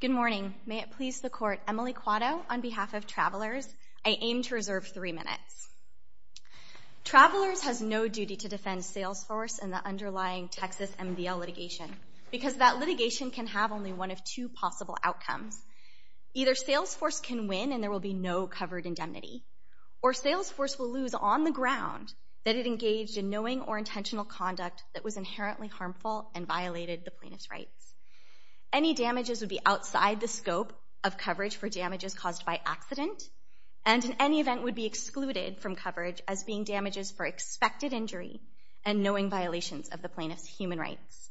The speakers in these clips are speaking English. Good morning. May it please the Court, Emily Quatto, on behalf of Travelers, I aim to reserve three minutes. Travelers has no duty to defend SalesForce and the underlying Texas MDL litigation, because that litigation can have only one of two possible outcomes. Either SalesForce can win and there will be no covered indemnity, or SalesForce will lose on the ground that it engaged in knowing or intentional conduct that was inherently harmful and violated the plaintiff's rights. Any damages would be outside the scope of coverage for damages caused by accident, and in any event would be excluded from coverage as being damages for expected injury and knowing violations of the plaintiff's human rights.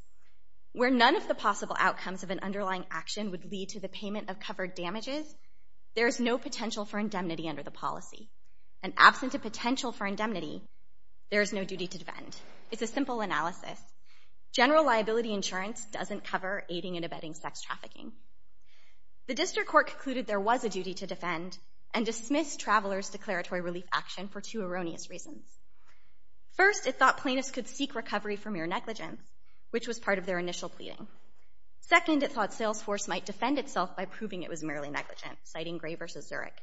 Where none of the possible outcomes of an underlying action would lead to the payment of covered damages, there is no potential for indemnity under the policy. And absent a potential for indemnity, there is no duty to defend. It's a simple analysis. General liability insurance doesn't cover aiding and abetting sex trafficking. The District Court concluded there was a duty to defend and dismissed Travelers' declaratory relief action for two erroneous reasons. First, it thought plaintiffs could seek recovery for mere negligence, which was part of their initial pleading. Second, it thought SalesForce might defend itself by proving it was merely negligent, citing Gray v. Zurich.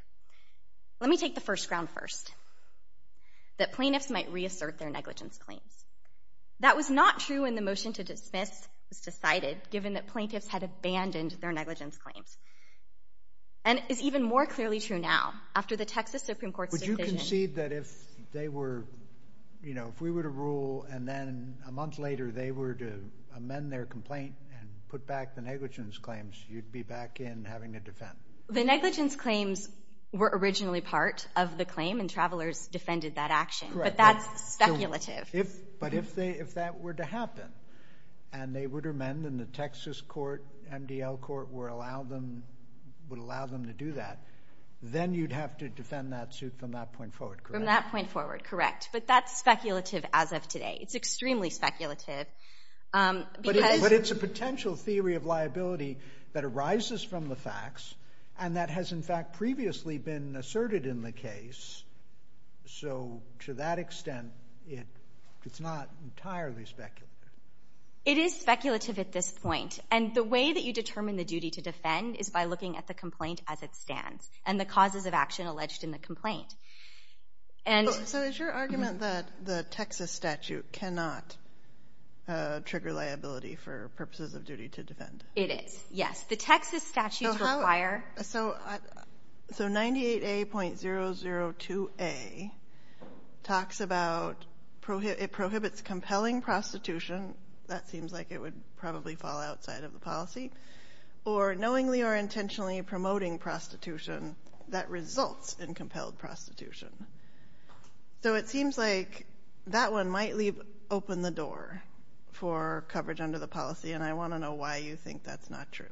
Let me take the first ground first, that plaintiffs might reassert their negligence claims. That was not true when the motion to dismiss was decided, given that plaintiffs had abandoned their negligence claims. And it's even more clearly true now, after the Texas Supreme Court's decision... Would you concede that if they were, you know, if we were to rule, and then a month later they were to amend their complaint and put back the negligence claims, you'd be back in having to defend? The negligence claims were originally part of the claim, and Travelers defended that action. But that's speculative. But if that were to happen, and they were to amend, and the Texas court, MDL court, would allow them to do that, then you'd have to defend that suit from that point forward, correct? From that point forward, correct. But that's speculative as of today. It's extremely speculative. But it's a potential theory of liability that arises from the facts, and that has, in fact, previously been asserted in the case. So to that extent, it's not entirely speculative. It is speculative at this point. And the way that you determine the duty to defend is by looking at the complaint as it stands and the causes of action alleged in the complaint. So is your argument that the Texas statute cannot trigger liability for purposes of duty to defend? It is, yes. The Texas statutes require. So 98A.002A talks about it prohibits compelling prostitution. That seems like it would probably fall outside of the policy. Or knowingly or intentionally promoting prostitution that results in compelled prostitution. So it seems like that one might leave open the door for coverage under the policy, and I want to know why you think that's not true.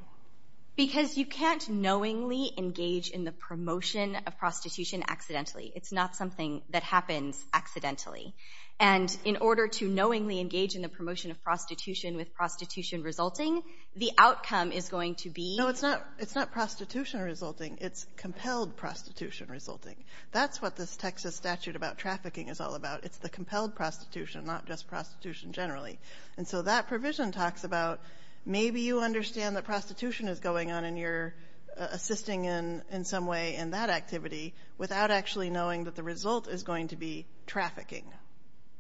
Because you can't knowingly engage in the promotion of prostitution accidentally. It's not something that happens accidentally. And in order to knowingly engage in the promotion of prostitution with prostitution resulting, the outcome is going to be. No, it's not prostitution resulting. It's compelled prostitution resulting. That's what this Texas statute about trafficking is all about. It's the compelled prostitution, not just prostitution generally. And so that provision talks about maybe you understand that prostitution is going on and you're assisting in some way in that activity without actually knowing that the result is going to be trafficking.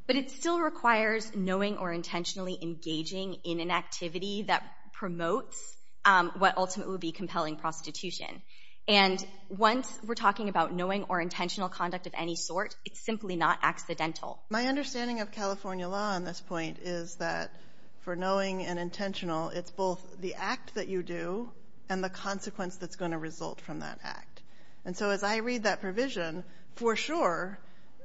But it still requires knowing or intentionally engaging in an activity that promotes what ultimately would be compelling prostitution. And once we're talking about knowing or intentional conduct of any sort, it's simply not accidental. My understanding of California law on this point is that for knowing and intentional, it's both the act that you do and the consequence that's going to result from that act. And so as I read that provision, for sure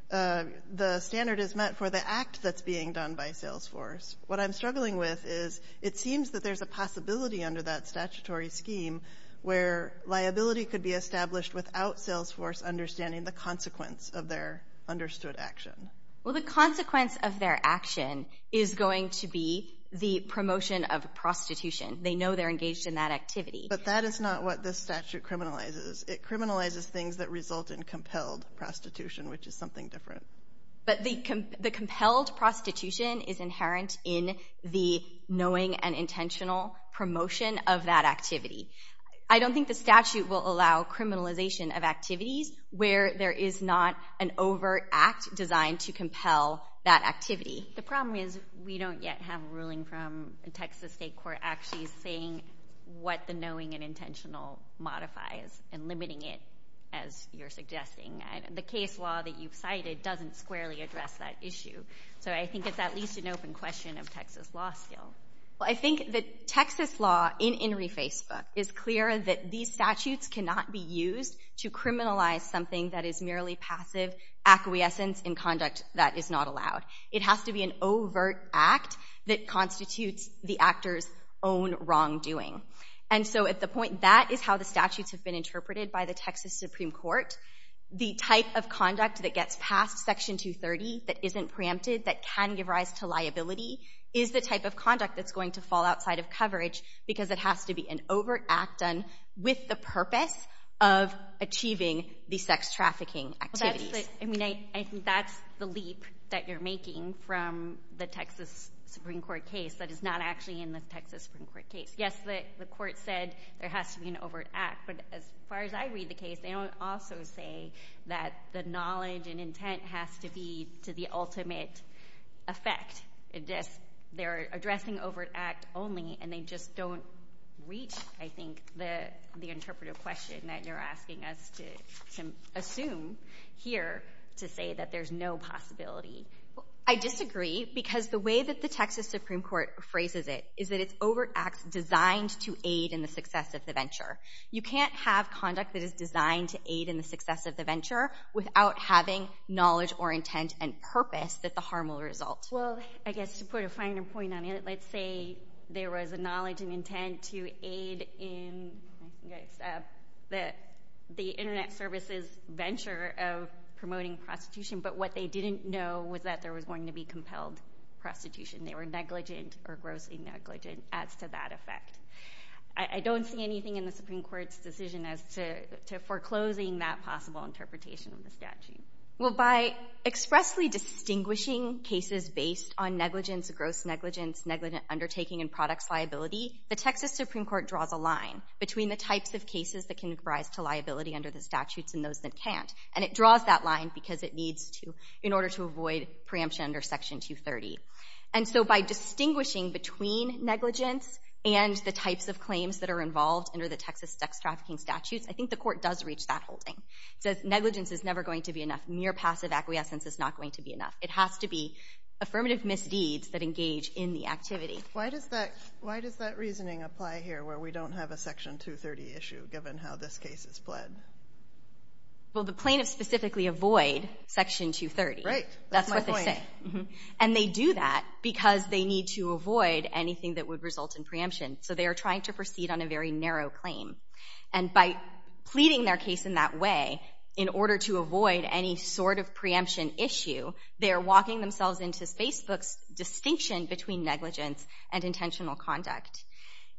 the standard is met for the act that's being done by Salesforce. What I'm struggling with is it seems that there's a possibility under that statutory scheme where liability could be established without Salesforce understanding the consequence of their understood action. Well, the consequence of their action is going to be the promotion of prostitution. They know they're engaged in that activity. But that is not what this statute criminalizes. It criminalizes things that result in compelled prostitution, which is something different. But the compelled prostitution is inherent in the knowing and intentional promotion of that activity. I don't think the statute will allow criminalization of activities where there is not an overt act designed to compel that activity. The problem is we don't yet have a ruling from a Texas state court actually saying what the knowing and intentional modifies and limiting it, as you're suggesting. The case law that you've cited doesn't squarely address that issue. So I think it's at least an open question of Texas law still. Well, I think that Texas law in In Refacebook is clear that these statutes cannot be used to criminalize something that is merely passive acquiescence in conduct that is not allowed. It has to be an overt act that constitutes the actor's own wrongdoing. And so at the point, that is how the statutes have been interpreted by the Texas Supreme Court. The type of conduct that gets past Section 230 that isn't preempted, that can give rise to liability, is the type of conduct that's going to fall outside of coverage because it has to be an overt act done with the purpose of achieving the sex trafficking activities. I think that's the leap that you're making from the Texas Supreme Court case that is not actually in the Texas Supreme Court case. Yes, the court said there has to be an overt act, but as far as I read the case, they don't also say that the knowledge and intent has to be to the ultimate effect. They're addressing overt act only, and they just don't reach, I think, the interpretive question that you're asking us to assume here to say that there's no possibility. I disagree because the way that the Texas Supreme Court phrases it is that it's overt acts designed to aid in the success of the venture. You can't have conduct that is designed to aid in the success of the venture without having knowledge or intent and purpose that the harm will result. Well, I guess to put a finer point on it, let's say there was a knowledge and intent to aid in the Internet Service's venture of promoting prostitution, but what they didn't know was that there was going to be compelled prostitution. They were negligent or grossly negligent as to that effect. I don't see anything in the Supreme Court's decision as to foreclosing that possible interpretation of the statute. Well, by expressly distinguishing cases based on negligence, gross negligence, negligent undertaking, and products liability, the Texas Supreme Court draws a line between the types of cases that can rise to liability under the statutes and those that can't. And it draws that line because it needs to in order to avoid preemption under Section 230. And so by distinguishing between negligence and the types of claims that are involved under the Texas sex trafficking statutes, I think the court does reach that holding. It says negligence is never going to be enough. Mere passive acquiescence is not going to be enough. It has to be affirmative misdeeds that engage in the activity. Why does that reasoning apply here where we don't have a Section 230 issue given how this case is pled? Well, the plaintiffs specifically avoid Section 230. Right. That's my point. That's what they say. And they do that because they need to avoid anything that would result in preemption. So they are trying to proceed on a very narrow claim. And by pleading their case in that way, in order to avoid any sort of preemption issue, they are walking themselves into Facebook's distinction between negligence and intentional conduct.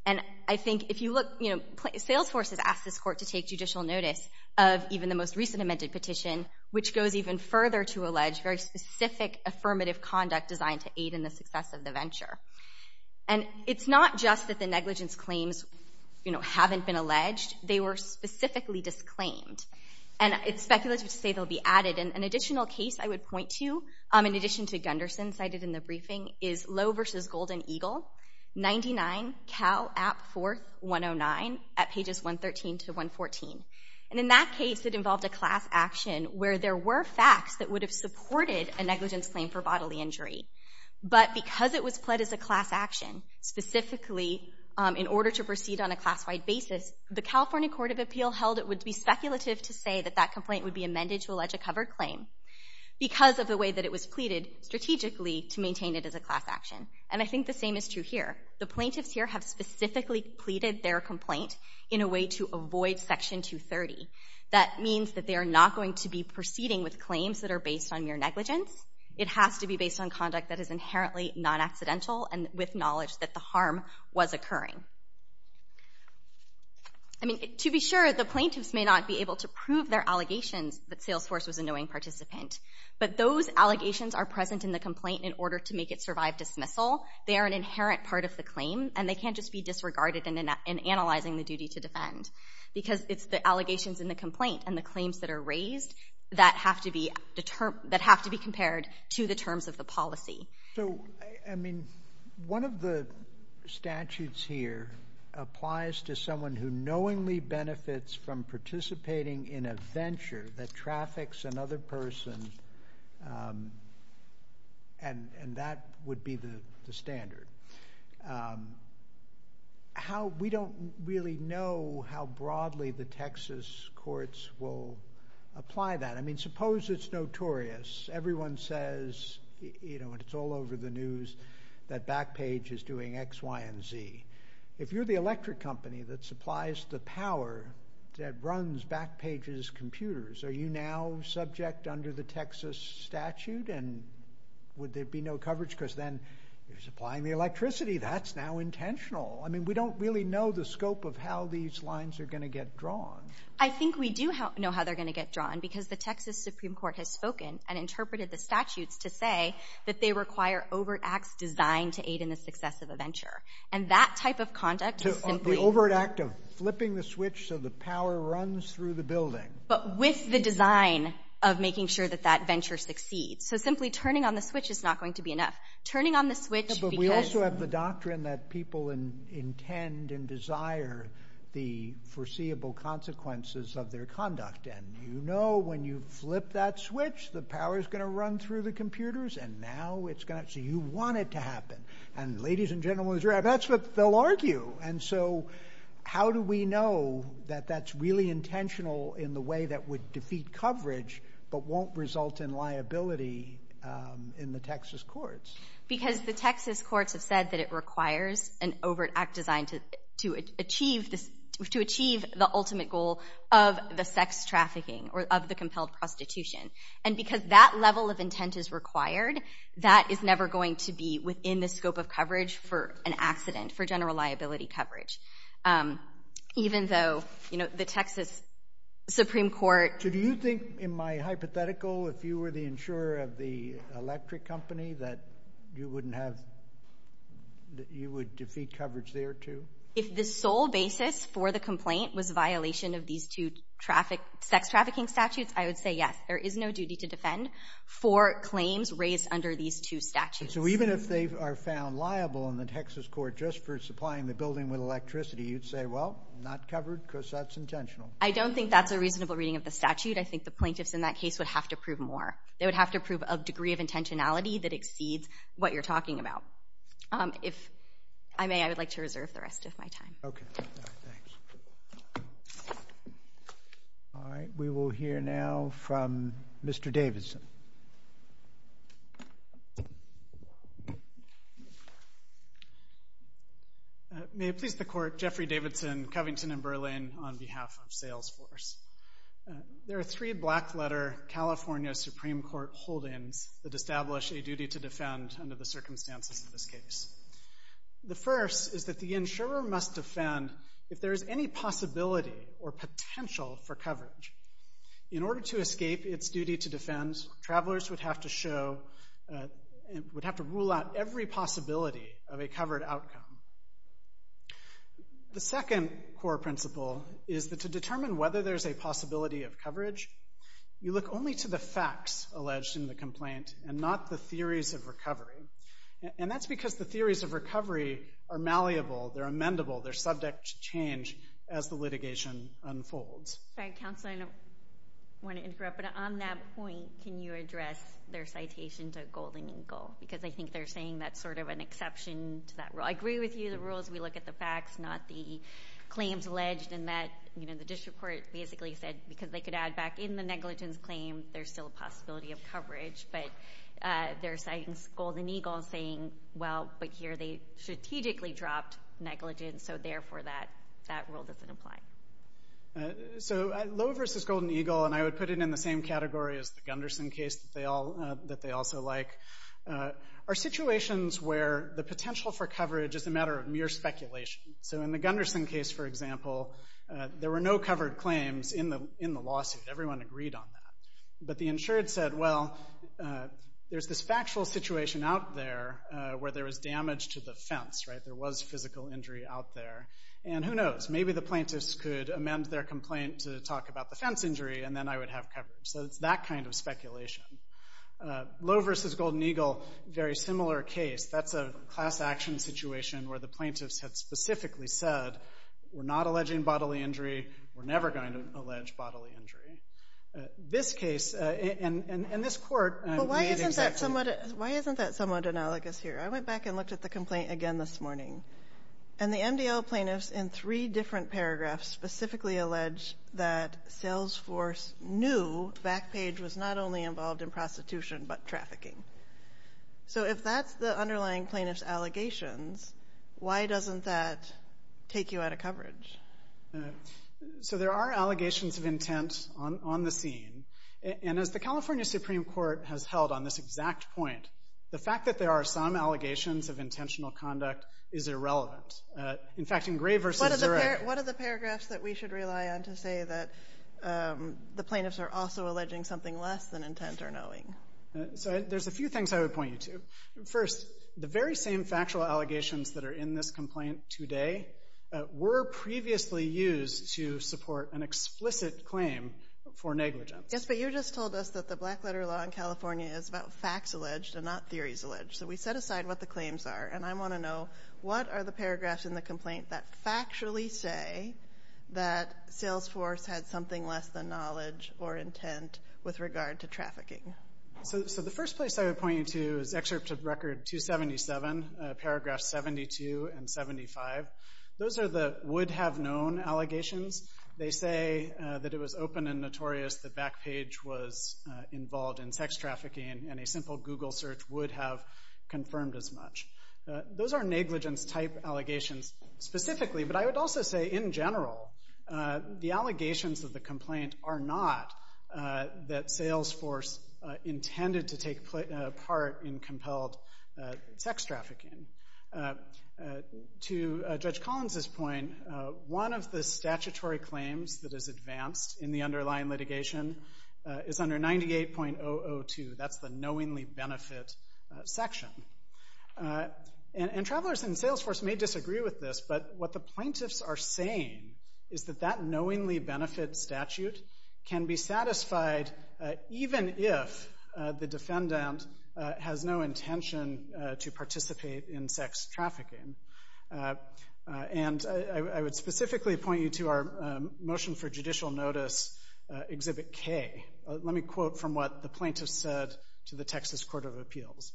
And I think if you look, you know, Salesforce has asked this court to take judicial notice of even the most recent amended petition, which goes even further to allege very specific affirmative conduct designed to aid in the success of the venture. And it's not just that the negligence claims, you know, haven't been alleged. They were specifically disclaimed. And it's speculative to say they'll be added. And an additional case I would point to, in addition to Gunderson cited in the briefing, is Lowe v. Golden Eagle, 99 Cal App 4, 109, at pages 113 to 114. And in that case, it involved a class action where there were facts that would have supported a negligence claim for bodily injury. But because it was pled as a class action, specifically in order to proceed on a class-wide basis, the California Court of Appeal held it would be speculative to say that that complaint would be amended to allege a covered claim because of the way that it was pleaded strategically to maintain it as a class action. And I think the same is true here. The plaintiffs here have specifically pleaded their complaint in a way to avoid Section 230. That means that they are not going to be proceeding with claims that are based on mere negligence. It has to be based on conduct that is inherently non-accidental and with knowledge that the harm was occurring. I mean, to be sure, the plaintiffs may not be able to prove their allegations that Salesforce was a knowing participant. But those allegations are present in the complaint in order to make it survive dismissal. They are an inherent part of the claim. And they can't just be disregarded in analyzing the duty to defend. Because it's the allegations in the complaint and the claims that are raised that have to be compared to the terms of the policy. So, I mean, one of the statutes here applies to someone who knowingly benefits from participating in a venture that traffics another person, and that would be the standard. We don't really know how broadly the Texas courts will apply that. I mean, suppose it's notorious. Everyone says, you know, and it's all over the news, that Backpage is doing X, Y, and Z. If you're the electric company that supplies the power that runs Backpage's computers, are you now subject under the Texas statute? And would there be no coverage? Because then you're supplying the electricity. That's now intentional. I mean, we don't really know the scope of how these lines are going to get drawn. I think we do know how they're going to get drawn because the Texas Supreme Court has spoken and interpreted the statutes to say that they require overt acts designed to aid in the success of a venture. And that type of conduct is simply— The overt act of flipping the switch so the power runs through the building. But with the design of making sure that that venture succeeds. So simply turning on the switch is not going to be enough. Turning on the switch because— But we also have the doctrine that people intend and desire the foreseeable consequences of their conduct. And you know when you flip that switch, the power is going to run through the computers, and now it's going to—so you want it to happen. And ladies and gentlemen, that's what they'll argue. And so how do we know that that's really intentional in the way that would defeat coverage but won't result in liability in the Texas courts? Because the Texas courts have said that it requires an overt act designed to achieve the ultimate goal of the sex trafficking or of the compelled prostitution. And because that level of intent is required, that is never going to be within the scope of coverage for an accident, for general liability coverage. Even though, you know, the Texas Supreme Court— So do you think in my hypothetical, if you were the insurer of the electric company, that you wouldn't have—that you would defeat coverage there too? If the sole basis for the complaint was violation of these two sex trafficking statutes, I would say yes. There is no duty to defend for claims raised under these two statutes. So even if they are found liable in the Texas court just for supplying the building with electricity, you'd say, well, not covered because that's intentional. I don't think that's a reasonable reading of the statute. I think the plaintiffs in that case would have to prove more. They would have to prove a degree of intentionality that exceeds what you're talking about. If I may, I would like to reserve the rest of my time. Okay, thanks. All right, we will hear now from Mr. Davidson. May it please the Court, Jeffrey Davidson, Covington & Berlin, on behalf of Salesforce. There are three black-letter California Supreme Court holdings that establish a duty to defend under the circumstances of this case. The first is that the insurer must defend if there is any possibility or potential for coverage. In order to escape its duty to defend, travelers would have to rule out every possibility of a covered outcome. The second core principle is that to determine whether there is a possibility of coverage, you look only to the facts alleged in the complaint and not the theories of recovery. And that's because the theories of recovery are malleable, they're amendable, they're subject to change as the litigation unfolds. Sorry, counsel, I don't want to interrupt, but on that point, can you address their citation to Golden Eagle? Because I think they're saying that's sort of an exception to that rule. I agree with you. The rule is we look at the facts, not the claims alleged. And the district court basically said, because they could add back in the negligence claim, there's still a possibility of coverage. But they're citing Golden Eagle saying, well, but here they strategically dropped negligence, so therefore that rule doesn't apply. So Lowe v. Golden Eagle, and I would put it in the same category as the Gunderson case that they also like, are situations where the potential for coverage is a matter of mere speculation. So in the Gunderson case, for example, there were no covered claims in the lawsuit. Everyone agreed on that. But the insured said, well, there's this factual situation out there where there was damage to the fence, right? There was physical injury out there. And who knows? Maybe the plaintiffs could amend their complaint to talk about the fence injury, and then I would have coverage. So it's that kind of speculation. Lowe v. Golden Eagle, very similar case. That's a class action situation where the plaintiffs had specifically said, we're not alleging bodily injury, we're never going to allege bodily injury. This case and this court made exactly that. But why isn't that somewhat analogous here? I went back and looked at the complaint again this morning, and the MDL plaintiffs in three different paragraphs specifically allege that Salesforce knew Backpage was not only involved in prostitution but trafficking. So if that's the underlying plaintiff's allegations, why doesn't that take you out of coverage? So there are allegations of intent on the scene, and as the California Supreme Court has held on this exact point, the fact that there are some allegations of intentional conduct is irrelevant. In fact, in Gray v. Zurek What are the paragraphs that we should rely on to say that the plaintiffs are also alleging something less than intent or knowing? So there's a few things I would point you to. First, the very same factual allegations that are in this complaint today were previously used to support an explicit claim for negligence. Yes, but you just told us that the black letter law in California is about facts alleged and not theories alleged. So we set aside what the claims are, and I want to know what are the paragraphs in the complaint that factually say that Salesforce had something less than knowledge or intent with regard to trafficking? So the first place I would point you to is Excerpt of Record 277, paragraphs 72 and 75. Those are the would-have-known allegations. They say that it was open and notorious that Backpage was involved in sex trafficking, and a simple Google search would have confirmed as much. Those are negligence-type allegations specifically, but I would also say in general, the allegations of the complaint are not that Salesforce intended to take part in compelled sex trafficking. To Judge Collins's point, one of the statutory claims that is advanced in the underlying litigation is under 98.002. That's the knowingly benefit section. And travelers in Salesforce may disagree with this, but what the plaintiffs are saying is that that knowingly benefit statute can be satisfied even if the defendant has no intention to participate in sex trafficking. And I would specifically point you to our motion for judicial notice, Exhibit K. Let me quote from what the plaintiffs said to the Texas Court of Appeals.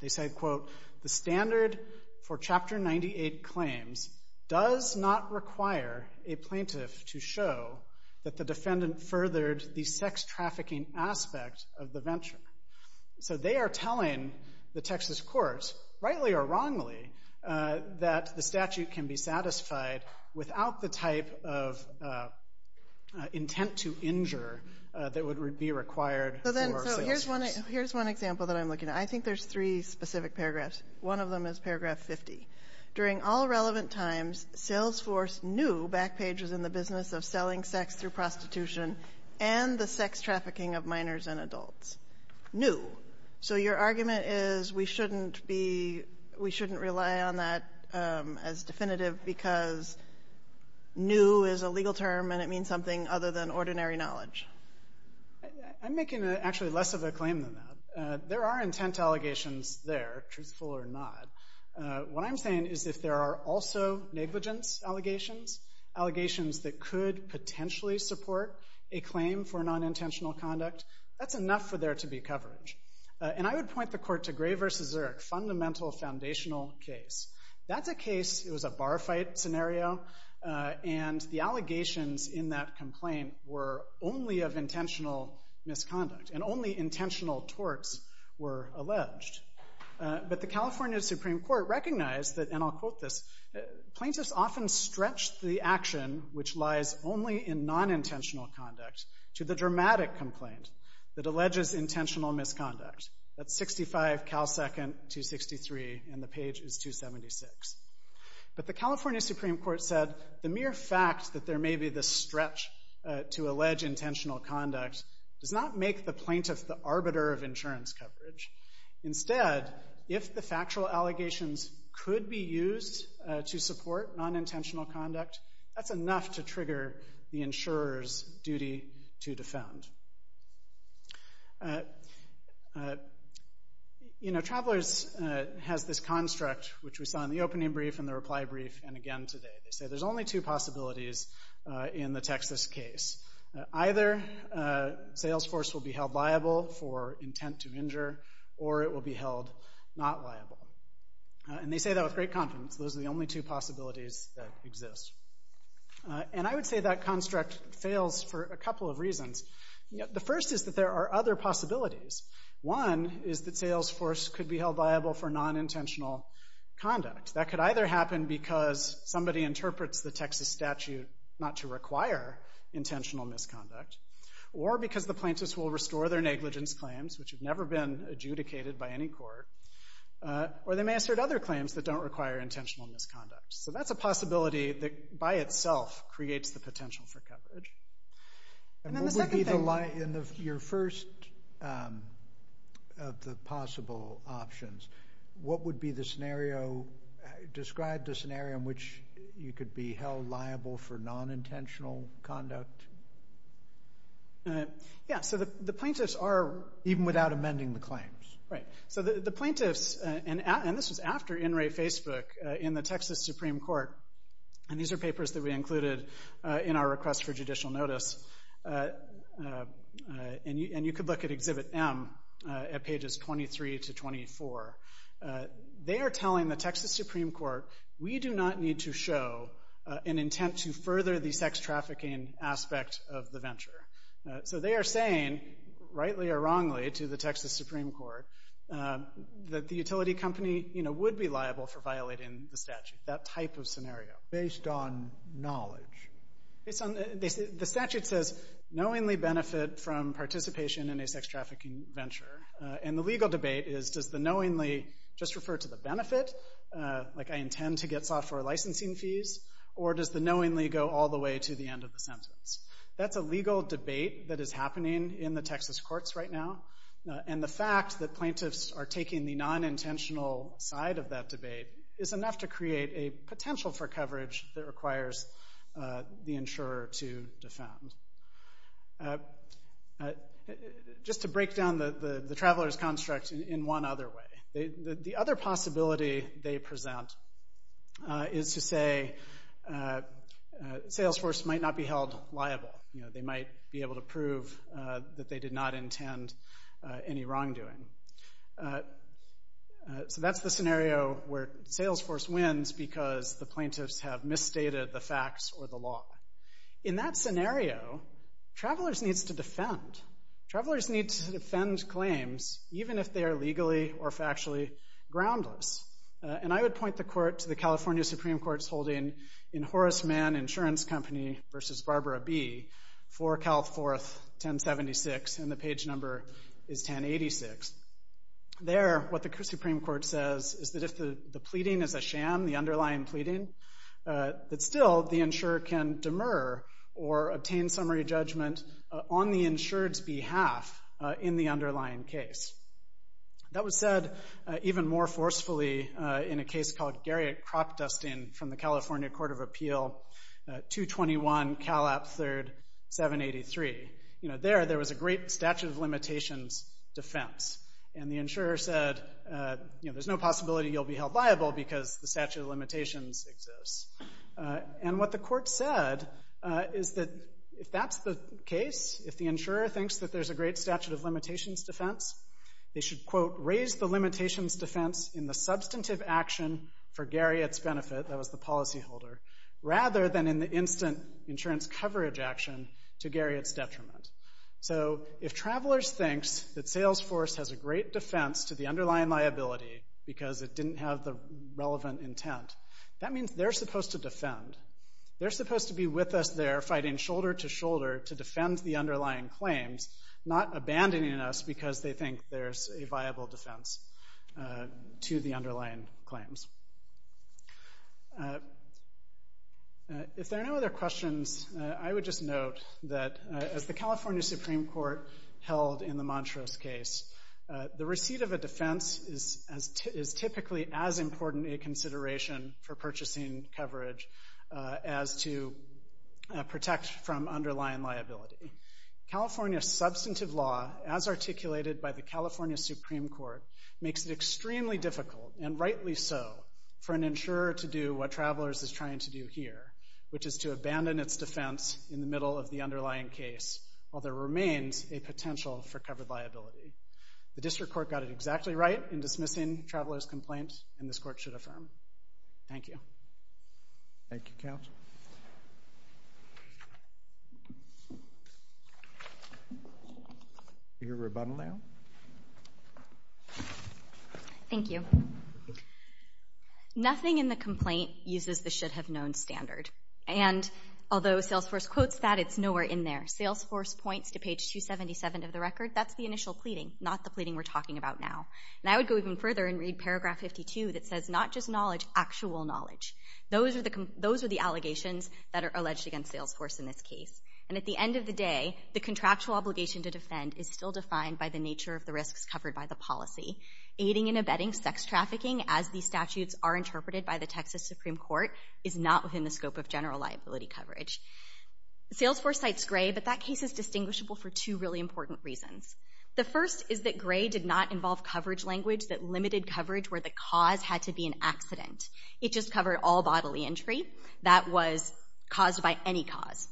They said, quote, The standard for Chapter 98 claims does not require a plaintiff to show that the defendant furthered the sex trafficking aspect of the venture. So they are telling the Texas courts, rightly or wrongly, that the statute can be satisfied without the type of intent to injure that would be required for Salesforce. So here's one example that I'm looking at. I think there's three specific paragraphs. One of them is paragraph 50. During all relevant times, Salesforce knew Backpage was in the business of selling sex through prostitution and the sex trafficking of minors and adults. So your argument is we shouldn't rely on that as definitive because new is a legal term and it means something other than ordinary knowledge. I'm making actually less of a claim than that. There are intent allegations there, truthful or not. What I'm saying is if there are also negligence allegations, allegations that could potentially support a claim for non-intentional conduct, that's enough for there to be coverage. And I would point the court to Gray v. Zurich, fundamental foundational case. That's a case, it was a bar fight scenario, and the allegations in that complaint were only of intentional misconduct and only intentional torts were alleged. But the California Supreme Court recognized that, and I'll quote this, Plaintiffs often stretch the action which lies only in non-intentional conduct to the dramatic complaint that alleges intentional misconduct. That's 65, cal second, 263, and the page is 276. But the California Supreme Court said, the mere fact that there may be this stretch to allege intentional conduct does not make the plaintiff the arbiter of insurance coverage. Instead, if the factual allegations could be used to support non-intentional conduct, that's enough to trigger the insurer's duty to defend. You know, Travelers has this construct, which we saw in the opening brief and the reply brief and again today. They say there's only two possibilities in the Texas case. Either Salesforce will be held liable for intent to injure, or it will be held not liable. And they say that with great confidence. Those are the only two possibilities that exist. And I would say that construct fails for a couple of reasons. The first is that there are other possibilities. One is that Salesforce could be held liable for non-intentional conduct. That could either happen because somebody interprets the Texas statute not to require intentional misconduct, or because the plaintiffs will restore their negligence claims, which have never been adjudicated by any court, or they may assert other claims that don't require intentional misconduct. So that's a possibility that by itself creates the potential for coverage. And then the second thing... And what would be your first of the possible options? What would be the scenario... Describe the scenario in which you could be held liable for non-intentional conduct. Yeah, so the plaintiffs are... Even without amending the claims. Right. So the plaintiffs... And this was after In Re Facebook in the Texas Supreme Court. And these are papers that we included in our request for judicial notice. And you could look at Exhibit M at pages 23 to 24. They are telling the Texas Supreme Court, we do not need to show an intent to further the sex trafficking aspect of the venture. So they are saying, rightly or wrongly, to the Texas Supreme Court, that the utility company would be liable for violating the statute. That type of scenario. Based on knowledge. The statute says, knowingly benefit from participation in a sex trafficking venture. And the legal debate is, does the knowingly just refer to the benefit, like I intend to get software licensing fees, or does the knowingly go all the way to the end of the sentence? That's a legal debate that is happening in the Texas courts right now. And the fact that plaintiffs are taking the non-intentional side of that debate is enough to create a potential for coverage that requires the insurer to defend. Just to break down the traveler's construct in one other way. The other possibility they present is to say, Salesforce might not be held liable. They might be able to prove that they did not intend any wrongdoing. So that's the scenario where Salesforce wins because the plaintiffs have misstated the facts or the law. In that scenario, travelers need to defend. Travelers need to defend claims, even if they are legally or factually groundless. And I would point the court to the California Supreme Court's holding in Horace Mann Insurance Company v. Barbara B. for Cal Fourth 1076, and the page number is 1086. There, what the Supreme Court says is that if the pleading is a sham, the underlying pleading, that still the insurer can demur or obtain summary judgment on the insured's behalf in the underlying case. That was said even more forcefully in a case called Garriott Cropdusting from the California Court of Appeal 221 Cal App 3rd 783. There, there was a great statute of limitations defense. And the insurer said, there's no possibility you'll be held liable because the statute of limitations exists. And what the court said is that if that's the case, if the insurer thinks that there's a great statute of limitations defense, they should, quote, raise the limitations defense in the substantive action for Garriott's benefit, that was the policyholder, rather than in the instant insurance coverage action to Garriott's detriment. So if travelers thinks that Salesforce has a great defense to the underlying liability because it didn't have the relevant intent, that means they're supposed to defend. They're supposed to be with us there fighting shoulder to shoulder to defend the underlying claims, not abandoning us because they think there's a viable defense. To the underlying claims. If there are no other questions, I would just note that as the California Supreme Court held in the Montrose case, the receipt of a defense is typically as important a consideration for purchasing coverage as to protect from underlying liability. California's substantive law, as articulated by the California Supreme Court, makes it extremely difficult, and rightly so, for an insurer to do what Travelers is trying to do here, which is to abandon its defense in the middle of the underlying case while there remains a potential for covered liability. The district court got it exactly right in dismissing Travelers' complaint, and this court should affirm. Thank you. Thank you, counsel. Your rebuttal now. Thank you. Nothing in the complaint uses the should-have-known standard, and although Salesforce quotes that, it's nowhere in there. Salesforce points to page 277 of the record. That's the initial pleading, not the pleading we're talking about now. And I would go even further and read paragraph 52 that says not just knowledge, actual knowledge. Those are the allegations that are alleged against Salesforce in this case. And at the end of the day, the contractual obligation to defend is still defined by the nature of the risks covered by the policy. Aiding and abetting sex trafficking, as these statutes are interpreted by the Texas Supreme Court, is not within the scope of general liability coverage. Salesforce cites Gray, but that case is distinguishable for two really important reasons. The first is that Gray did not involve coverage language that limited coverage where the cause had to be an accident. It just covered all bodily injury that was caused by any cause.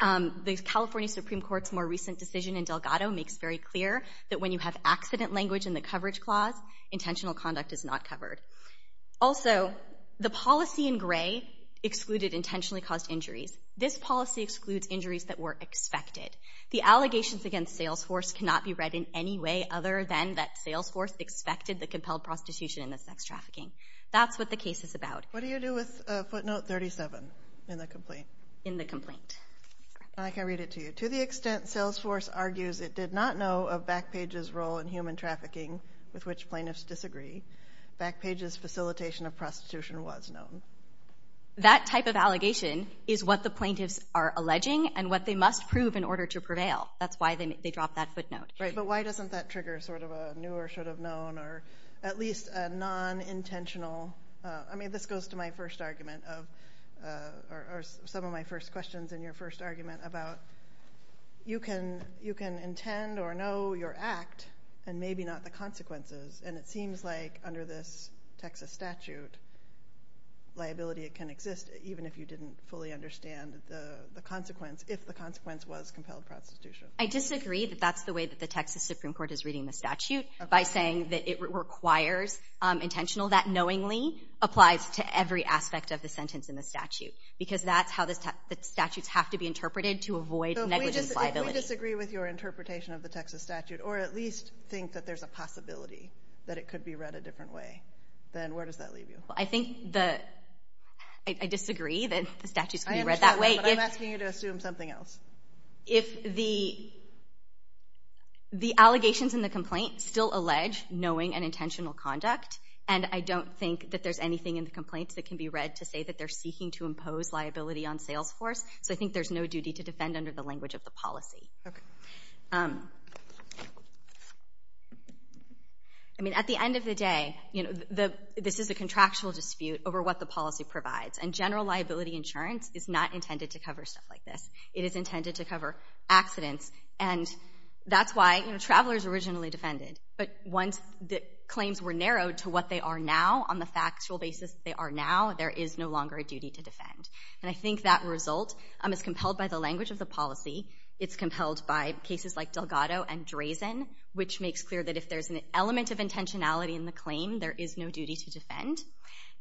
The California Supreme Court's more recent decision in Delgado makes very clear that when you have accident language in the coverage clause, intentional conduct is not covered. Also, the policy in Gray excluded intentionally caused injuries. This policy excludes injuries that were expected. The allegations against Salesforce cannot be read in any way other than that Salesforce expected the compelled prostitution in the sex trafficking. That's what the case is about. What do you do with footnote 37 in the complaint? In the complaint. I can read it to you. To the extent Salesforce argues it did not know of Backpage's role in human trafficking, with which plaintiffs disagree, Backpage's facilitation of prostitution was known. That type of allegation is what the plaintiffs are alleging and what they must prove in order to prevail. That's why they dropped that footnote. Right, but why doesn't that trigger sort of a new or should have known or at least a non-intentional? I mean, this goes to my first argument or some of my first questions in your first argument about you can intend or know your act and maybe not the consequences, and it seems like under this Texas statute liability can exist even if you didn't fully understand the consequence, if the consequence was compelled prostitution. I disagree that that's the way that the Texas Supreme Court is reading the statute by saying that it requires intentional, that knowingly applies to every aspect of the sentence in the statute because that's how the statutes have to be interpreted to avoid negligence liability. So if we disagree with your interpretation of the Texas statute or at least think that there's a possibility that it could be read a different way, then where does that leave you? I think that I disagree that the statute should be read that way. I understand that, but I'm asking you to assume something else. If the allegations in the complaint still allege knowing and intentional conduct, and I don't think that there's anything in the complaint that can be read to say that they're seeking to impose liability on Salesforce, so I think there's no duty to defend under the language of the policy. I mean, at the end of the day, this is a contractual dispute over what the policy provides, and general liability insurance is not intended to cover stuff like this. It is intended to cover accidents, and that's why Travelers originally defended. But once the claims were narrowed to what they are now, on the factual basis that they are now, there is no longer a duty to defend. And I think that result is compelled by the language of the policy. It's compelled by cases like Delgado and Drazen, which makes clear that if there's an element of intentionality in the claim, there is no duty to defend.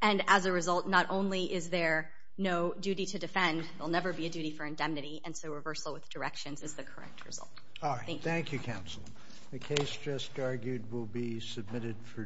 And as a result, not only is there no duty to defend, there will never be a duty for indemnity, and so reversal with directions is the correct result. All right. Thank you, counsel. The case just argued will be submitted for decision.